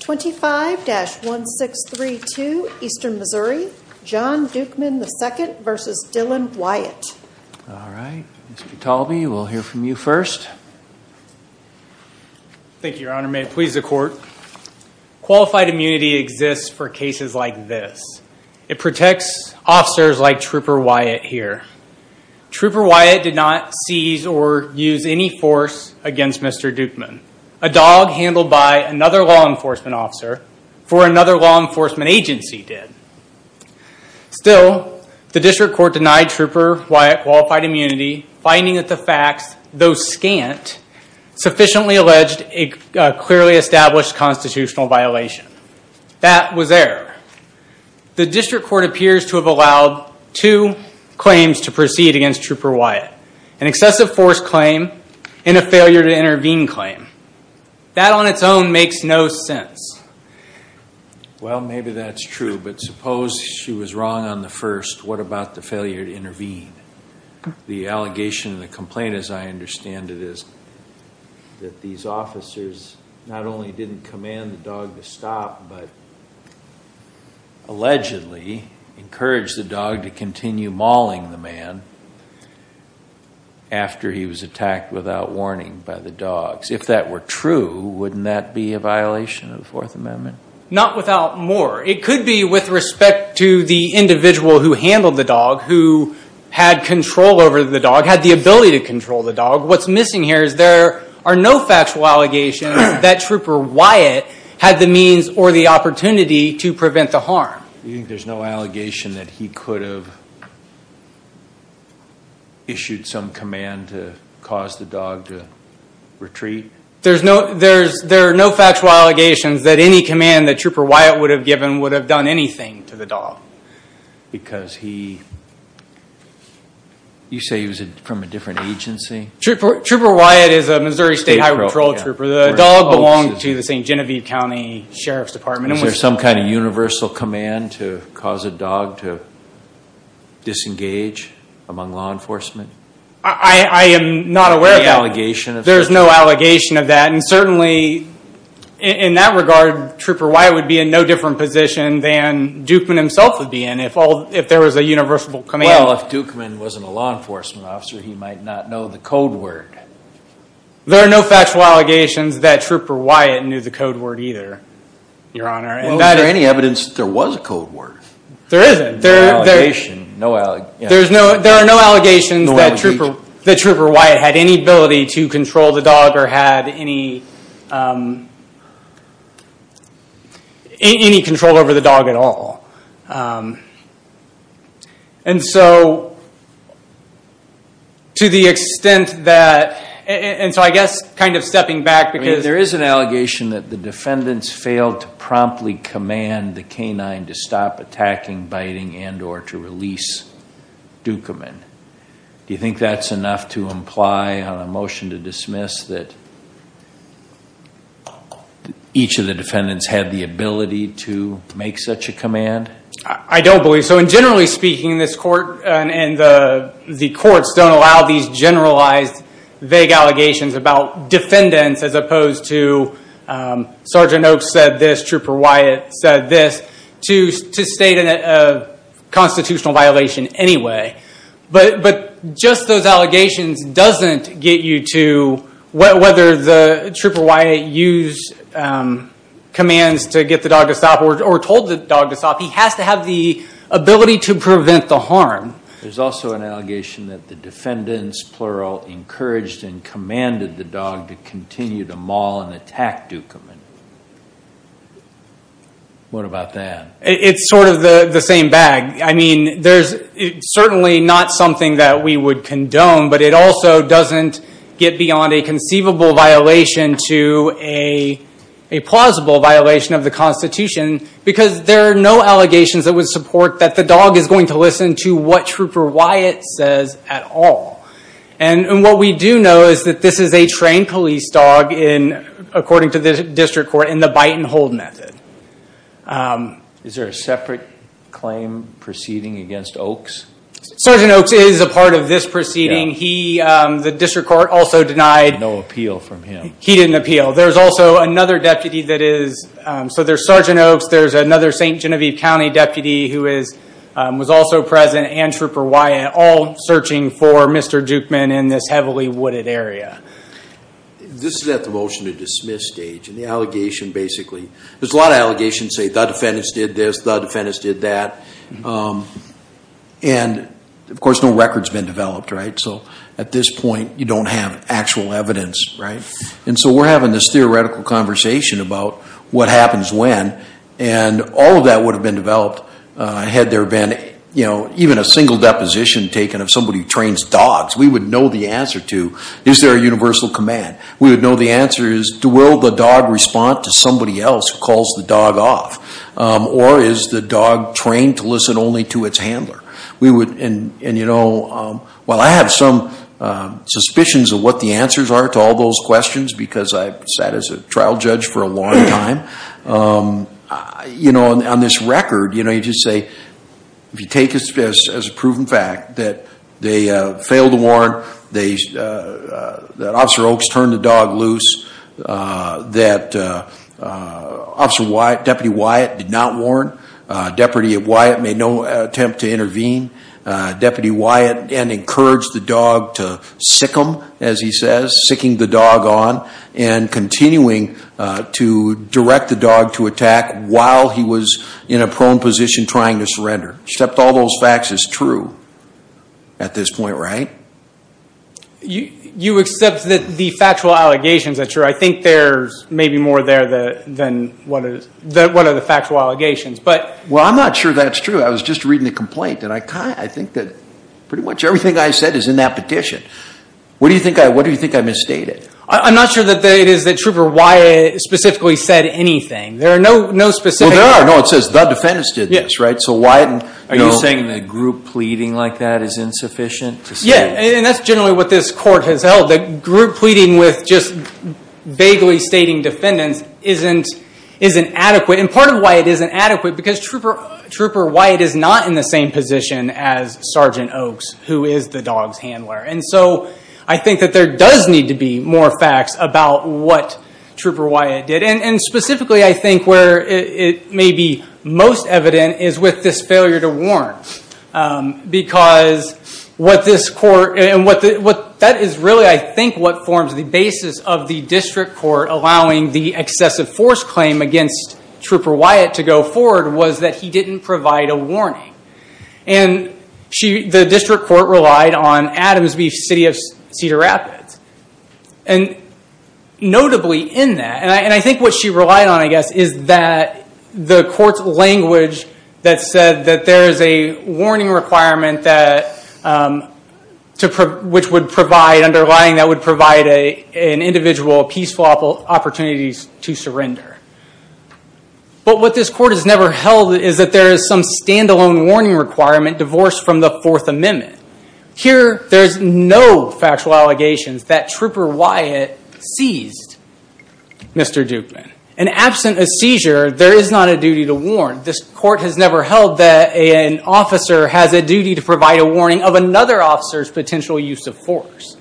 25-1632 Eastern Missouri, John Dukeman, II v. Dylan Wyatt All right, Mr. Talby, we'll hear from you first. Thank you, Your Honor. May it please the Court. Qualified immunity exists for cases like this. It protects officers like Trooper Wyatt here. Trooper Wyatt did not seize or use any force against Mr. Dukeman. A dog handled by another law enforcement officer for another law enforcement agency did. Still, the District Court denied Trooper Wyatt qualified immunity, finding that the facts, though scant, sufficiently alleged a clearly established constitutional violation. That was error. The District Court appears to have allowed two claims to proceed against Trooper Wyatt, an excessive force claim and a failure to intervene claim. That on its own makes no sense. Well, maybe that's true, but suppose she was wrong on the first. What about the failure to intervene? The allegation and the complaint, as I understand it, is that these officers not only didn't command the dog to stop, but allegedly encouraged the dog to continue mauling the man after he was attacked without warning by the dogs. If that were true, wouldn't that be a violation of the Fourth Amendment? Not without more. It could be with respect to the individual who handled the dog, who had control over the dog, had the ability to control the dog. What's missing here is there are no factual allegations that Trooper Wyatt had the means or the opportunity to prevent the harm. You think there's no allegation that he could have issued some command to cause the dog to retreat? There are no factual allegations that any command that Trooper Wyatt would have given would have done anything to the dog. Because he, you say he was from a different agency? Trooper Wyatt is a Missouri State Highway Patrol trooper. The dog belonged to the St. Genevieve County Sheriff's Department. Was there some kind of universal command to cause a dog to disengage among law enforcement? I am not aware of that. There's no allegation of that? There's no allegation of that. And certainly in that regard, Trooper Wyatt would be in no different position than Dukeman himself would be in if there was a universal command. Well, if Dukeman wasn't a law enforcement officer, he might not know the code word. There are no factual allegations that Trooper Wyatt knew the code word either, Your Honor. Well, is there any evidence that there was a code word? There isn't. There are no allegations that Trooper Wyatt had any ability to control the dog or had any control over the dog at all. And so, to the extent that, and so I guess kind of stepping back because- I mean, there is an allegation that the defendants failed to promptly command the canine to stop attacking, biting, and or to release Dukeman. Do you think that's enough to imply on a motion to dismiss that each of the defendants had the ability to make such a command? I don't believe so. When generally speaking, this court and the courts don't allow these generalized vague allegations about defendants as opposed to Sergeant Oaks said this, Trooper Wyatt said this, to state a constitutional violation anyway. But just those allegations doesn't get you to whether the Trooper Wyatt used commands to get the dog to stop or told the dog to stop. He has to have the ability to prevent the harm. There's also an allegation that the defendants, plural, encouraged and commanded the dog to continue to maul and attack Dukeman. What about that? It's sort of the same bag. I mean, there's certainly not something that we would condone, but it also doesn't get beyond a conceivable violation to a plausible violation of the Constitution because there are no allegations that would support that the dog is going to listen to what Trooper Wyatt says at all. And what we do know is that this is a trained police dog, according to the district court, in the bite and hold method. Is there a separate claim proceeding against Oaks? Sergeant Oaks is a part of this proceeding. The district court also denied... No appeal from him. He didn't appeal. There's also another deputy that is... So there's Sergeant Oaks, there's another St. Genevieve County deputy who was also present, and Trooper Wyatt, all searching for Mr. Dukeman in this heavily wooded area. This is at the motion to dismiss stage. And the allegation basically... There's a lot of allegations that say the defendants did this, the defendants did that. And, of course, no record's been developed, right? So at this point, you don't have actual evidence, right? And so we're having this theoretical conversation about what happens when. And all of that would have been developed had there been even a single deposition taken of somebody who trains dogs. We would know the answer to, is there a universal command? We would know the answer is, will the dog respond to somebody else who calls the dog off? Or is the dog trained to listen only to its handler? And, you know, while I have some suspicions of what the answers are to all those questions, because I've sat as a trial judge for a long time, you know, on this record, you just say, if you take this as a proven fact that they failed to warn, that Officer Oaks turned the dog loose, that Deputy Wyatt did not warn. Deputy Wyatt made no attempt to intervene. Deputy Wyatt then encouraged the dog to sick him, as he says, sicking the dog on, and continuing to direct the dog to attack while he was in a prone position trying to surrender. Except all those facts is true at this point, right? You accept that the factual allegations are true. I think there's maybe more there than what are the factual allegations. Well, I'm not sure that's true. I was just reading the complaint, and I think that pretty much everything I said is in that petition. What do you think I misstated? I'm not sure that it is that Trooper Wyatt specifically said anything. There are no specific – Well, there are. No, it says the defendants did this, right? So why – Are you saying the group pleading like that is insufficient? Yeah, and that's generally what this court has held. The group pleading with just vaguely stating defendants isn't adequate. And part of why it isn't adequate, because Trooper Wyatt is not in the same position as Sergeant Oaks, who is the dog's handler. And so I think that there does need to be more facts about what Trooper Wyatt did. And specifically, I think where it may be most evident is with this failure to warn, because what this court – and that is really, I think, what forms the basis of the district court allowing the excessive force claim against Trooper Wyatt to go forward was that he didn't provide a warning. And the district court relied on Adams Beach City of Cedar Rapids. And notably in that, and I think what she relied on, I guess, is that the court's language that said that there is a warning requirement which would provide underlying – that would provide an individual peaceful opportunities to surrender. But what this court has never held is that there is some stand-alone warning requirement divorced from the Fourth Amendment. Here, there's no factual allegations that Trooper Wyatt seized Mr. Dukeman. And absent a seizure, there is not a duty to warn. This court has never held that an officer has a duty to provide a warning of another officer's potential use of force.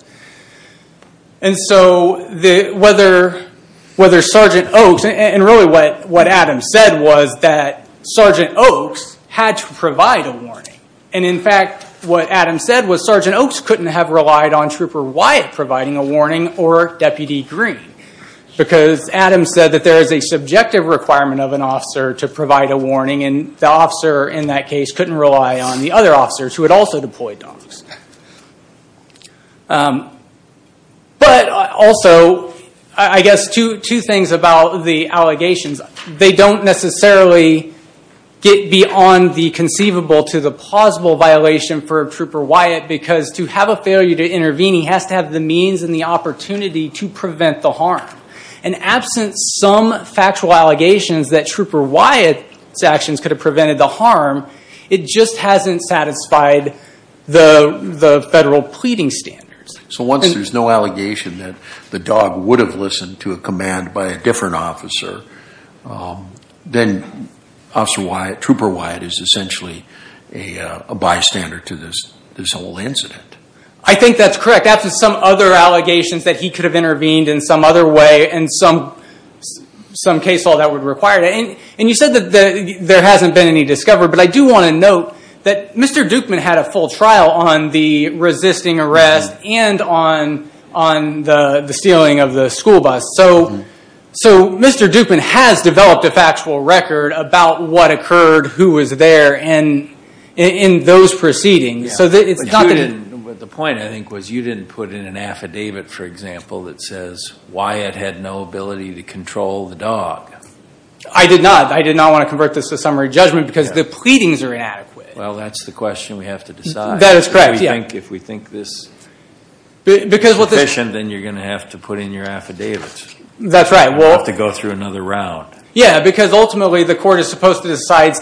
And so whether Sergeant Oaks – and really what Adams said was that Sergeant Oaks had to provide a warning. And in fact, what Adams said was Sergeant Oaks couldn't have relied on Trooper Wyatt providing a warning or Deputy Green. Because Adams said that there is a subjective requirement of an officer to provide a warning. And the officer in that case couldn't rely on the other officers who had also deployed to Oaks. But also, I guess two things about the allegations. They don't necessarily get beyond the conceivable to the plausible violation for Trooper Wyatt because to have a failure to intervene, he has to have the means and the opportunity to prevent the harm. And absent some factual allegations that Trooper Wyatt's actions could have prevented the harm, it just hasn't satisfied the federal pleading standards. So once there's no allegation that the dog would have listened to a command by a different officer, then Officer Wyatt – Trooper Wyatt is essentially a bystander to this whole incident. I think that's correct. Absent some other allegations that he could have intervened in some other way and some case law that would require it. And you said that there hasn't been any discovery. But I do want to note that Mr. Dukeman had a full trial on the resisting arrest and on the stealing of the school bus. So Mr. Dukeman has developed a factual record about what occurred, who was there, and in those proceedings. The point, I think, was you didn't put in an affidavit, for example, that says Wyatt had no ability to control the dog. I did not. I did not want to convert this to summary judgment because the pleadings are inadequate. Well, that's the question we have to decide. That is correct. If we think this is sufficient, then you're going to have to put in your affidavit. That's right. We'll have to go through another round. Yeah, because ultimately the court is supposed to decide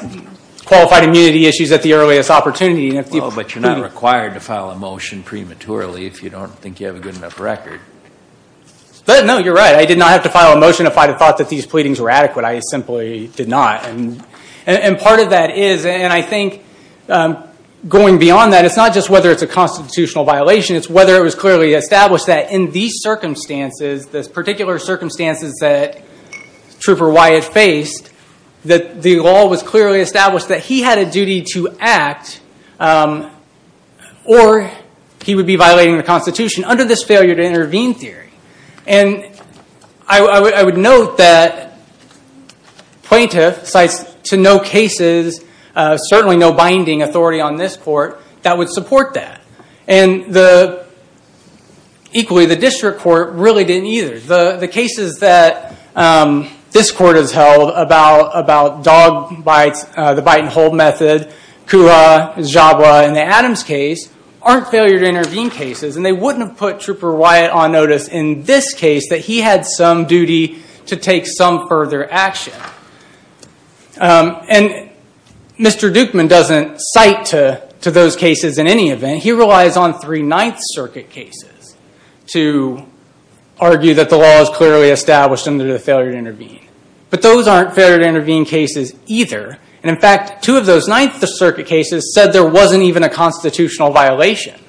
qualified immunity issues at the earliest opportunity. But you're not required to file a motion prematurely if you don't think you have a good enough record. No, you're right. I did not have to file a motion if I thought that these pleadings were adequate. I simply did not. And part of that is, and I think going beyond that, it's not just whether it's a constitutional violation. It's whether it was clearly established that in these circumstances, the particular circumstances that Trooper Wyatt faced, that the law was clearly established that he had a duty to act or he would be violating the Constitution under this failure to intervene theory. And I would note that plaintiff cites to no cases, certainly no binding authority on this court that would support that. And equally, the district court really didn't either. The cases that this court has held about dog bites, the bite and hold method, Kula, Jabra, and the Adams case aren't failure to intervene cases. And they wouldn't have put Trooper Wyatt on notice in this case that he had some duty to take some further action. And Mr. Dukeman doesn't cite to those cases in any event. And he relies on three Ninth Circuit cases to argue that the law is clearly established under the failure to intervene. But those aren't failure to intervene cases either. And in fact, two of those Ninth Circuit cases said there wasn't even a constitutional violation.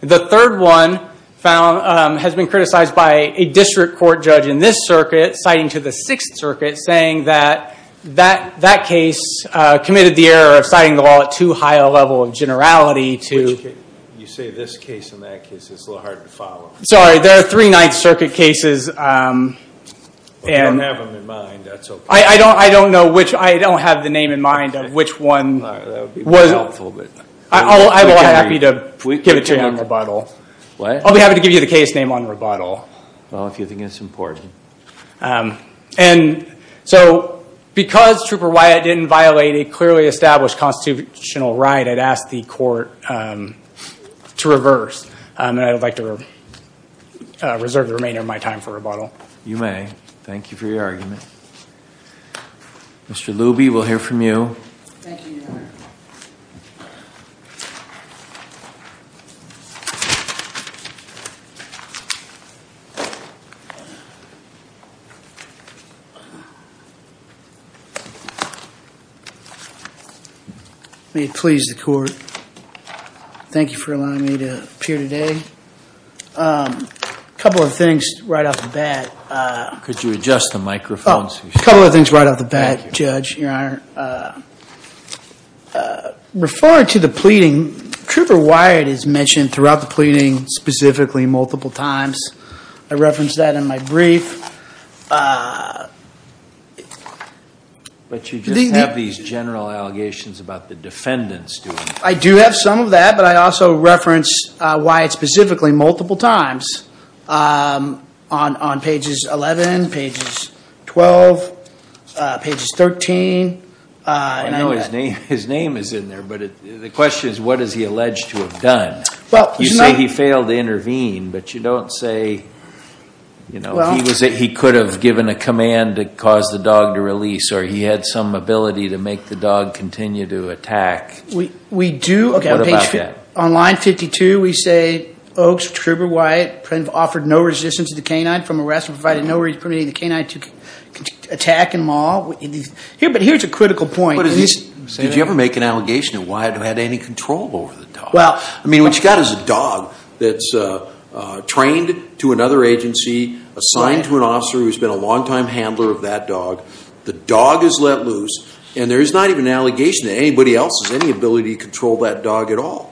The third one has been criticized by a district court judge in this circuit, citing to the Sixth Circuit, saying that that case committed the error of citing the law at too high a level of generality to. Which case? You say this case and that case. It's a little hard to follow. Sorry. There are three Ninth Circuit cases. If you don't have them in mind, that's OK. I don't know which. I don't have the name in mind of which one. That would be more helpful. I will be happy to give it to you in rebuttal. What? I'll be happy to give you the case name on rebuttal. Well, if you think it's important. And so because Trooper Wyatt didn't violate a clearly established constitutional right, I'd ask the court to reverse. And I would like to reserve the remainder of my time for rebuttal. You may. Thank you for your argument. Mr. Luby, we'll hear from you. Thank you, Your Honor. May it please the court. Thank you for allowing me to appear today. A couple of things right off the bat. Could you adjust the microphone? A couple of things right off the bat, Judge, Your Honor. Referring to the pleading, Trooper Wyatt has mentioned throughout the pleading, specifically multiple times. I referenced that in my brief. But you just have these general allegations about the defendants doing it. I do have some of that. But I also reference Wyatt specifically multiple times on pages 11, pages 12, pages 13. I know his name is in there. But the question is, what is he alleged to have done? You say he failed to intervene. But you don't say he was able to intervene. You say that he could have given a command to cause the dog to release, or he had some ability to make the dog continue to attack. We do. What about that? On line 52, we say, Oaks, Trooper Wyatt offered no resistance to the canine from arrest and provided no resistance to the canine to attack and maul. But here's a critical point. Did you ever make an allegation that Wyatt had any control over the dog? I mean, what you've got is a dog that's trained to another agency, assigned to an officer who's been a long-time handler of that dog. The dog is let loose, and there's not even an allegation that anybody else has any ability to control that dog at all.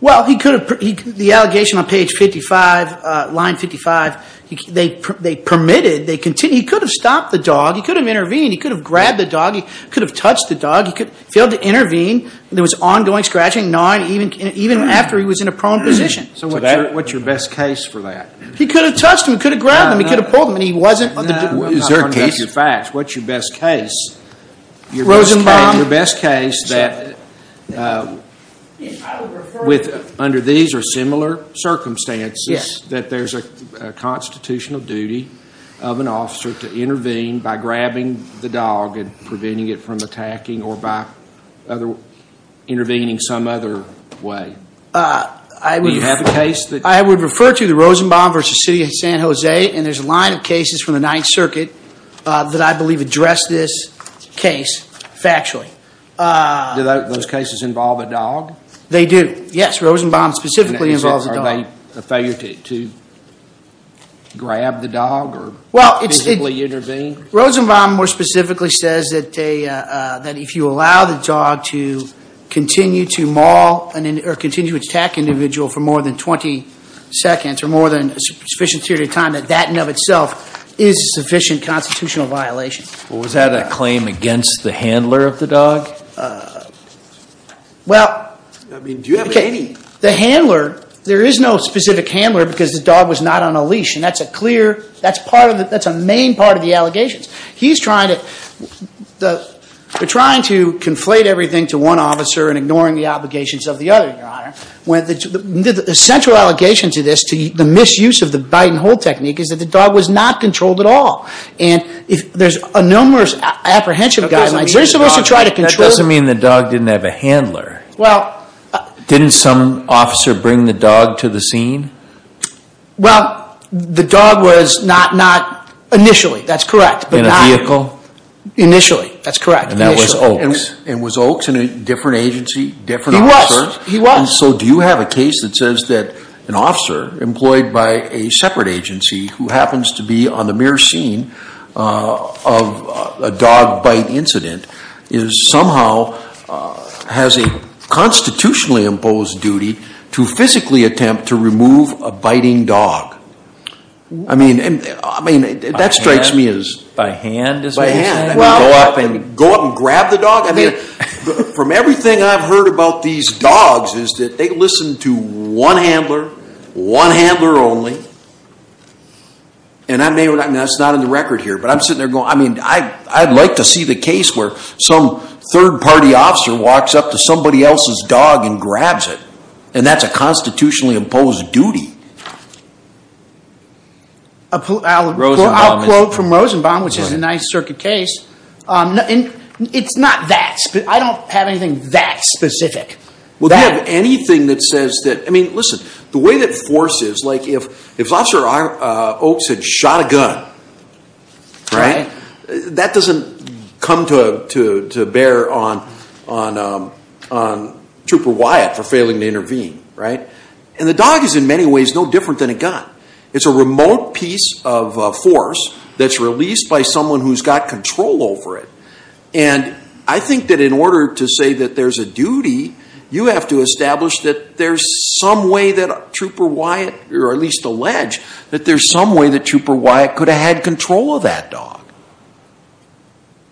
Well, he could have. The allegation on page 55, line 55, they permitted. He could have stopped the dog. He could have intervened. He could have grabbed the dog. He could have touched the dog. He failed to intervene. There was ongoing scratching, gnawing, even after he was in a prone position. So what's your best case for that? He could have touched him. He could have grabbed him. He could have pulled him. Is there a case? What's your best case? Rosenbaum. Your best case that under these or similar circumstances that there's a constitutional duty of an officer to intervene by grabbing the dog and preventing it from attacking or by intervening some other way. Do you have a case? I would refer to the Rosenbaum v. City of San Jose, and there's a line of cases from the Ninth Circuit that I believe address this case factually. Do those cases involve a dog? They do. Yes, Rosenbaum specifically involves a dog. Is it a failure to grab the dog or physically intervene? Rosenbaum more specifically says that if you allow the dog to continue to maul or continue to attack an individual for more than 20 seconds or more than a sufficient period of time, that that in and of itself is a sufficient constitutional violation. Was that a claim against the handler of the dog? Well, the handler, there is no specific handler because the dog was not on a leash, and that's a main part of the allegations. He's trying to conflate everything to one officer and ignoring the obligations of the other, Your Honor. The central allegation to this, to the misuse of the bite and hold technique, is that the dog was not controlled at all, and there's a numerous apprehension guidelines. That doesn't mean the dog didn't have a handler. Didn't some officer bring the dog to the scene? Well, the dog was not initially. That's correct. In a vehicle? Initially. That's correct. And that was Oaks. And was Oaks in a different agency, different officer? So do you have a case that says that an officer employed by a separate agency who happens to be on the mirror scene of a dog bite incident somehow has a constitutionally imposed duty to physically attempt to remove a biting dog? I mean, that strikes me as... By hand? By hand. I mean, go up and grab the dog? I mean, from everything I've heard about these dogs is that they listen to one handler, one handler only, and that's not in the record here, but I'm sitting there going, I mean, I'd like to see the case where some third-party officer walks up to somebody else's dog and grabs it, and that's a constitutionally imposed duty. I'll quote from Rosenbaum, which is a Ninth Circuit case. It's not that. I don't have anything that specific. Well, do you have anything that says that... I mean, listen, the way that force is, like if Officer Oaks had shot a gun, that doesn't come to bear on Trooper Wyatt for failing to intervene, right? And the dog is in many ways no different than a gun. It's a remote piece of force that's released by someone who's got control over it. And I think that in order to say that there's a duty, you have to establish that there's some way that Trooper Wyatt, or at least allege that there's some way that Trooper Wyatt could have had control of that dog.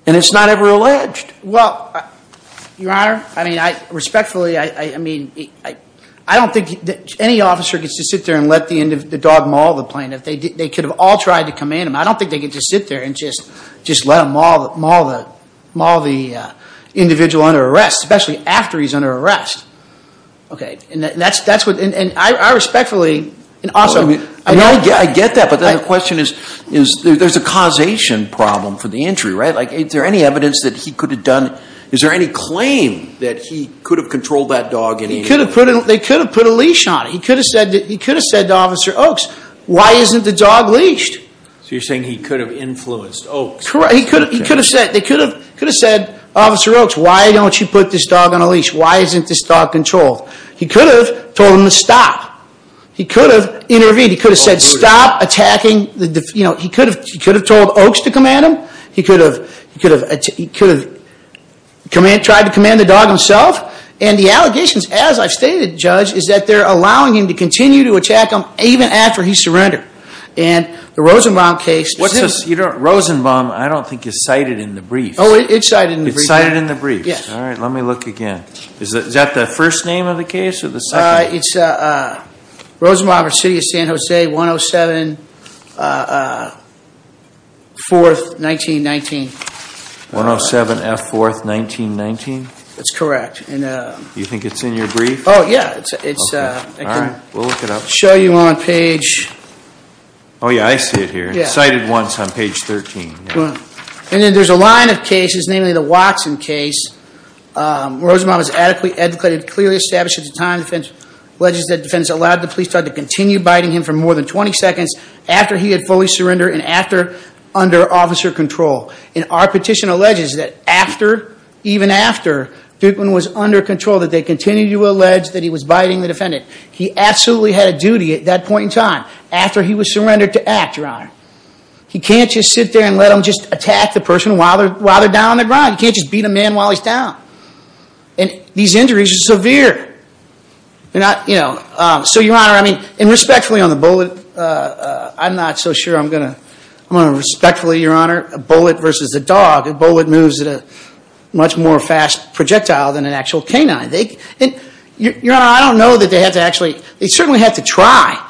And it's not ever alleged. Well, Your Honor, I mean, respectfully, I don't think any officer gets to sit there and let the dog maul the plane. They could have all tried to command him. I don't think they get to sit there and just let him maul the individual under arrest, especially after he's under arrest. Okay, and I respectfully... I get that, but then the question is there's a causation problem for the injury, right? Like is there any evidence that he could have done... Is there any claim that he could have controlled that dog? They could have put a leash on it. He could have said to Officer Oaks, why isn't the dog leashed? So you're saying he could have influenced Oaks? He could have said, they could have said, Officer Oaks, why don't you put this dog on a leash? Why isn't this dog controlled? He could have told him to stop. He could have intervened. He could have said, stop attacking the... He could have told Oaks to command him. He could have tried to command the dog himself. And the allegations, as I've stated, Judge, is that they're allowing him to continue to attack him even after he surrendered. And the Rosenbaum case... Rosenbaum, I don't think, is cited in the brief. Oh, it's cited in the brief. It's cited in the brief. Yes. All right, let me look again. Is that the first name of the case or the second? It's Rosenbaum v. City of San Jose, 107, 4th, 1919. 107F, 4th, 1919? That's correct. You think it's in your brief? Oh, yeah. All right, we'll look it up. I can show you on page... Oh, yeah, I see it here. It's cited once on page 13. And then there's a line of cases, namely the Watson case. Rosenbaum is adequately educated, clearly established at the time, alleges that defendants allowed the police dog to continue biting him for more than 20 seconds after he had fully surrendered and after under officer control. And our petition alleges that after, even after, Dukeman was under control, that they continued to allege that he was biting the defendant. He absolutely had a duty at that point in time, after he was surrendered, to act, Your Honor. He can't just sit there and let them just attack the person while they're down on the ground. You can't just beat a man while he's down. And these injuries are severe. They're not, you know... So, Your Honor, I mean, and respectfully on the bullet, I'm not so sure I'm going to... I'm going to respectfully, Your Honor, a bullet versus a dog. A bullet moves at a much more fast projectile than an actual canine. Your Honor, I don't know that they had to actually... They certainly had to try.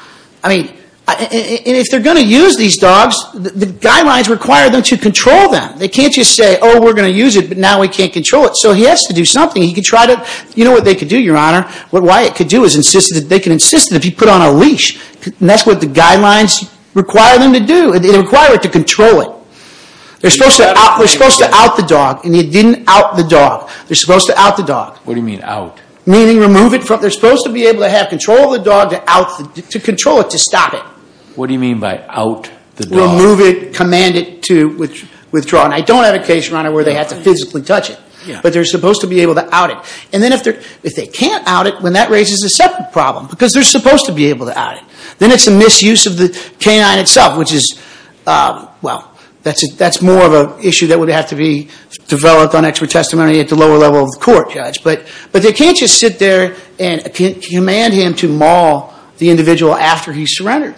I mean, and if they're going to use these dogs, the guidelines require them to control them. They can't just say, oh, we're going to use it, but now we can't control it. So he has to do something. He can try to... You know what they could do, Your Honor? What Wyatt could do is insist that... They can insist that if he put on a leash... And that's what the guidelines require them to do. They require it to control it. They're supposed to out the dog, and he didn't out the dog. They're supposed to out the dog. What do you mean, out? Meaning remove it from... They're supposed to be able to have control of the dog to control it, to stop it. What do you mean by out the dog? Remove it, command it to withdraw. And I don't have a case, Your Honor, where they had to physically touch it. But they're supposed to be able to out it. And then if they can't out it, then that raises a separate problem, because they're supposed to be able to out it. Then it's a misuse of the canine itself, which is, well, that's more of an issue that would have to be developed on expert testimony at the lower level of the court, Judge. But they can't just sit there and command him to maul the individual after he's surrendered.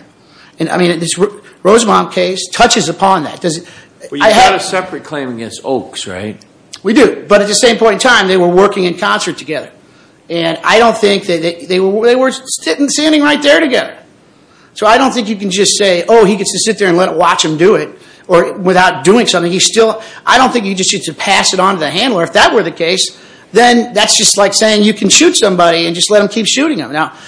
And, I mean, this Rosemont case touches upon that. Does it... Well, you've got a separate claim against Oakes, right? We do. But at the same point in time, they were working in concert together. And I don't think that... They were sitting, standing right there together. So I don't think you can just say, oh, he gets to sit there and watch him do it, or without doing something, he's still... I don't think you just get to pass it on to the handler. If that were the case, then that's just like saying you can shoot somebody and just let him keep shooting him. Now,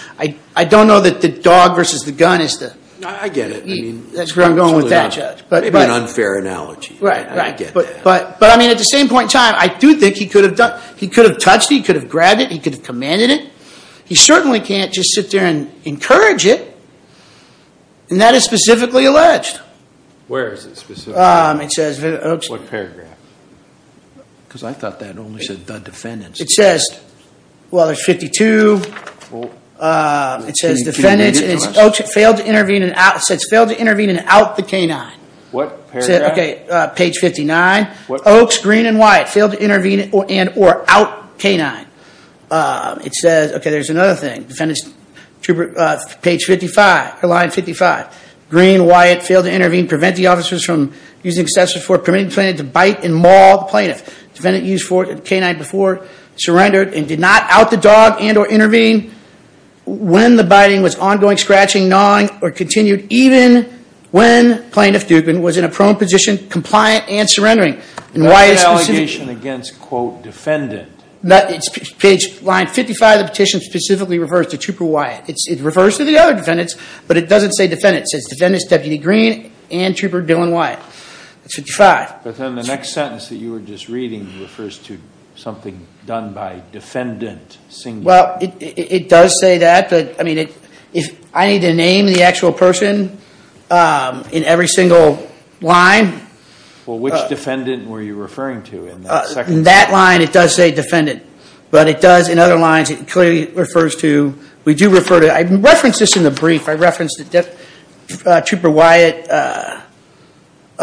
I don't know that the dog versus the gun is the... I get it. That's where I'm going with that, Judge. Maybe an unfair analogy. Right, right. I get that. But, I mean, at the same point in time, I do think he could have touched it, he could have grabbed it, he could have commanded it. He certainly can't just sit there and encourage it. And that is specifically alleged. Where is it specifically? It says... What paragraph? Because I thought that only said the defendants. It says... Well, there's 52. It says defendants, and it says, Oakes failed to intervene and out the canine. What paragraph? Okay, page 59. Oakes, Green, and Wyatt failed to intervene and or out canine. It says... Okay, there's another thing. Defendants, page 55, line 55. Green, Wyatt failed to intervene, prevent the officers from using excessive force, permitting the plaintiff to bite and maul the plaintiff. Defendant used force and canine before, surrendered and did not out the dog and or intervene when the biting was ongoing, scratching, mauling, or continued even when plaintiff Dugan was in a prone position, compliant, and surrendering. And Wyatt's specific... That's an allegation against, quote, defendant. Page line 55 of the petition specifically refers to Trooper Wyatt. It refers to the other defendants, but it doesn't say defendants. It says defendants, Deputy Green and Trooper Dylan Wyatt. That's 55. But then the next sentence that you were just reading refers to something done by defendant. Well, it does say that, but, I mean, I need to name the actual person in every single line. Well, which defendant were you referring to in that second sentence? In that line, it does say defendant. But it does, in other lines, it clearly refers to... We do refer to... I referenced this in the brief. I referenced that Trooper Wyatt...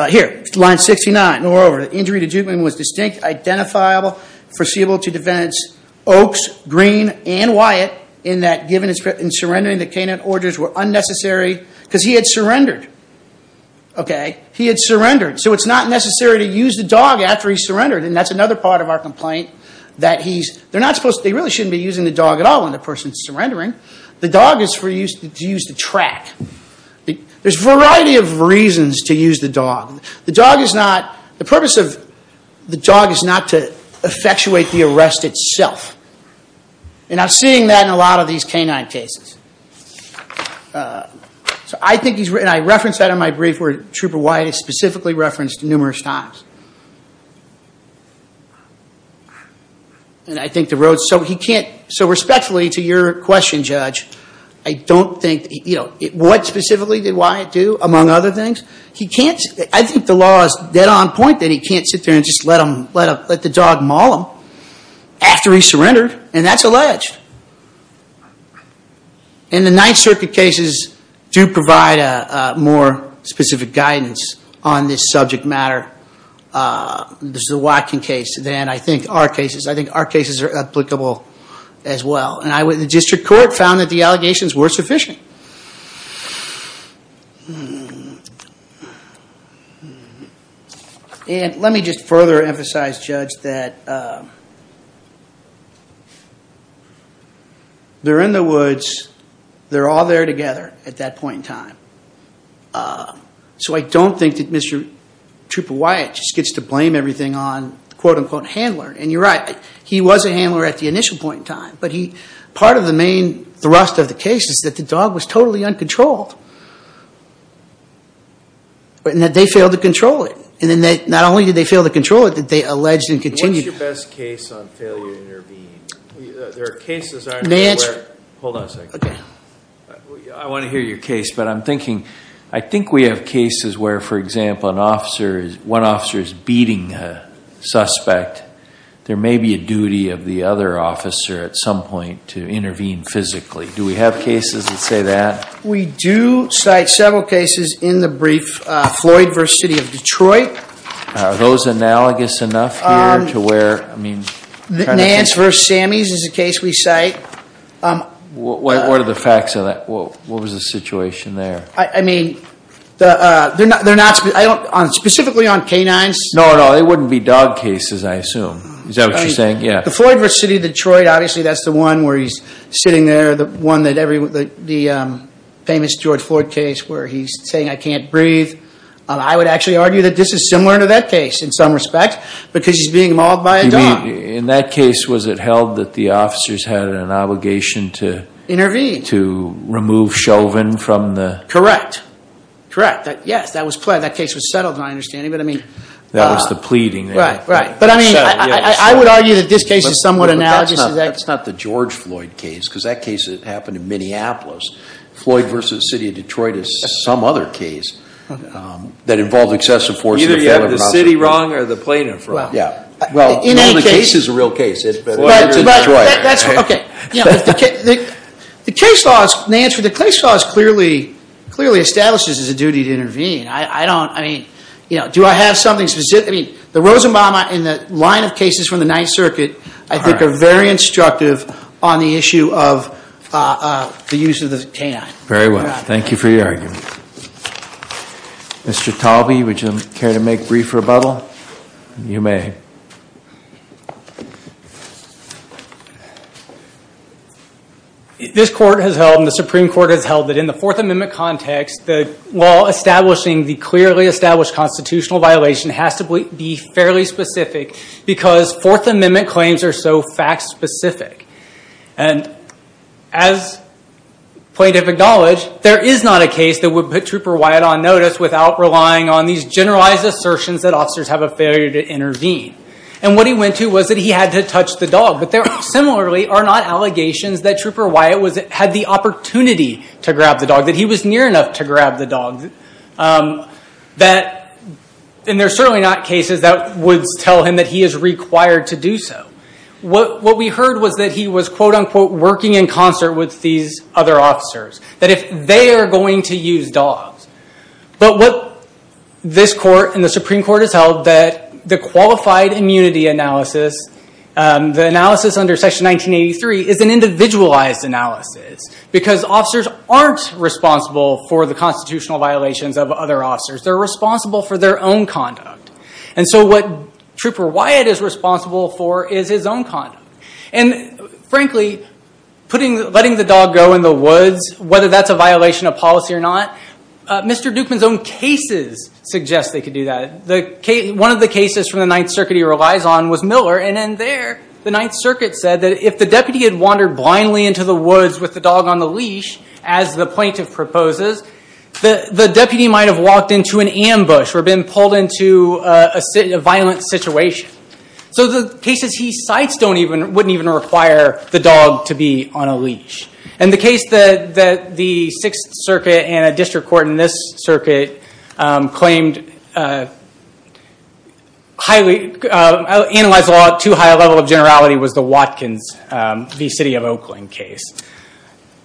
Here, line 69. Moreover, the injury to Dukeman was distinct, identifiable, foreseeable to defendants Oaks, Green, and Wyatt, in that given his... In surrendering, the Canaan orders were unnecessary because he had surrendered. Okay? He had surrendered. So it's not necessary to use the dog after he surrendered, and that's another part of our complaint, that he's... They're not supposed... They really shouldn't be using the dog at all when the person's surrendering. The dog is used to track. There's a variety of reasons to use the dog. The dog is not... The purpose of the dog is not to effectuate the arrest itself. And I'm seeing that in a lot of these canine cases. So I think he's... And I referenced that in my brief, where Trooper Wyatt is specifically referenced numerous times. And I think the road... He can't... So respectfully to your question, Judge, I don't think... What specifically did Wyatt do, among other things? He can't... I think the law is dead on point that he can't sit there and just let the dog maul him after he surrendered, and that's alleged. And the Ninth Circuit cases do provide more specific guidance on this subject matter. This is a Watkin case. Then I think our cases... As well. And the district court found that the allegations were sufficient. And let me just further emphasize, Judge, that they're in the woods. They're all there together at that point in time. So I don't think that Mr. Trooper Wyatt just gets to blame everything on the quote-unquote handler. And you're right. He was a handler at the initial point in time, but part of the main thrust of the case is that the dog was totally uncontrolled and that they failed to control it. And not only did they fail to control it, they alleged and continued... What's your best case on failure to intervene? There are cases... May I answer? Hold on a second. Okay. I want to hear your case, but I'm thinking... I think we have cases where, for example, one officer is beating a suspect. There may be a duty of the other officer at some point to intervene physically. Do we have cases that say that? We do cite several cases in the brief. Floyd v. City of Detroit. Are those analogous enough here to where, I mean... Nance v. Sammies is a case we cite. What are the facts of that? What was the situation there? I mean, they're not... Specifically on canines. No, no. Well, they wouldn't be dog cases, I assume. Is that what you're saying? Yeah. The Floyd v. City of Detroit, obviously that's the one where he's sitting there, the famous George Floyd case where he's saying, I can't breathe. I would actually argue that this is similar to that case in some respect because he's being mauled by a dog. You mean, in that case, was it held that the officers had an obligation to... Intervene. ...to remove Chauvin from the... Correct. Correct. Yes, that case was settled, my understanding. But, I mean... That was the pleading. Right, right. But, I mean, I would argue that this case is somewhat analogous. That's not the George Floyd case because that case happened in Minneapolis. Floyd v. City of Detroit is some other case that involved excessive force... Either you have the city wrong or the plaintiff wrong. Yeah. Well, in any case... The case is a real case. Floyd v. Detroit. Okay. The case laws, Nance, the case laws clearly establishes it's a duty to intervene. I don't... I mean, do I have something specific? I mean, the Rosenbaum and the line of cases from the Ninth Circuit... ...I think are very instructive on the issue of the use of the canine. Very well. Thank you for your argument. Mr. Talby, would you care to make a brief rebuttal? You may. This Court has held, and the Supreme Court has held, that in the Fourth Amendment context, the law establishing the clearly established constitutional violation has to be fairly specific because Fourth Amendment claims are so fact-specific. And as plaintiff acknowledged, there is not a case that would put Trooper Wyatt on notice without relying on these generalized assertions that officers have a failure to intervene. And what he went to was that he had to touch the dog. But there, similarly, are not allegations that Trooper Wyatt had the opportunity to grab the dog, that he was near enough to grab the dog, that... And there are certainly not cases that would tell him that he is required to do so. What we heard was that he was, quote-unquote, working in concert with these other officers, that if they are going to use dogs. But what this Court and the Supreme Court has held, that the qualified immunity analysis, the analysis under Section 1983, is an individualized analysis because officers aren't responsible for the constitutional violations of other officers. They're responsible for their own conduct. And so what Trooper Wyatt is responsible for is his own conduct. And frankly, letting the dog go in the woods, whether that's a violation of policy or not, Mr. Dukeman's own cases suggest they could do that. One of the cases from the Ninth Circuit he relies on was Miller. And in there, the Ninth Circuit said that if the deputy had wandered blindly into the woods with the dog on the leash, as the plaintiff proposes, the deputy might have walked into an ambush or been pulled into a violent situation. So the cases he cites wouldn't even require the dog to be on a leash. And the case that the Sixth Circuit and a district court in this circuit claimed highly... Analyzed law at too high a level of generality was the Watkins v. City of Oakland case.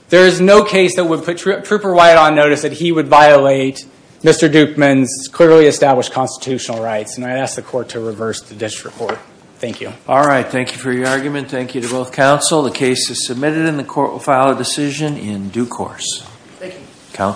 There is no case that would put Trooper Wyatt on notice that he would violate Mr. Dukeman's clearly established constitutional rights. And I ask the court to reverse the district court. Thank you. All right. Thank you for your argument. Thank you to both counsel. The case is submitted and the court will file a decision in due course. Thank you.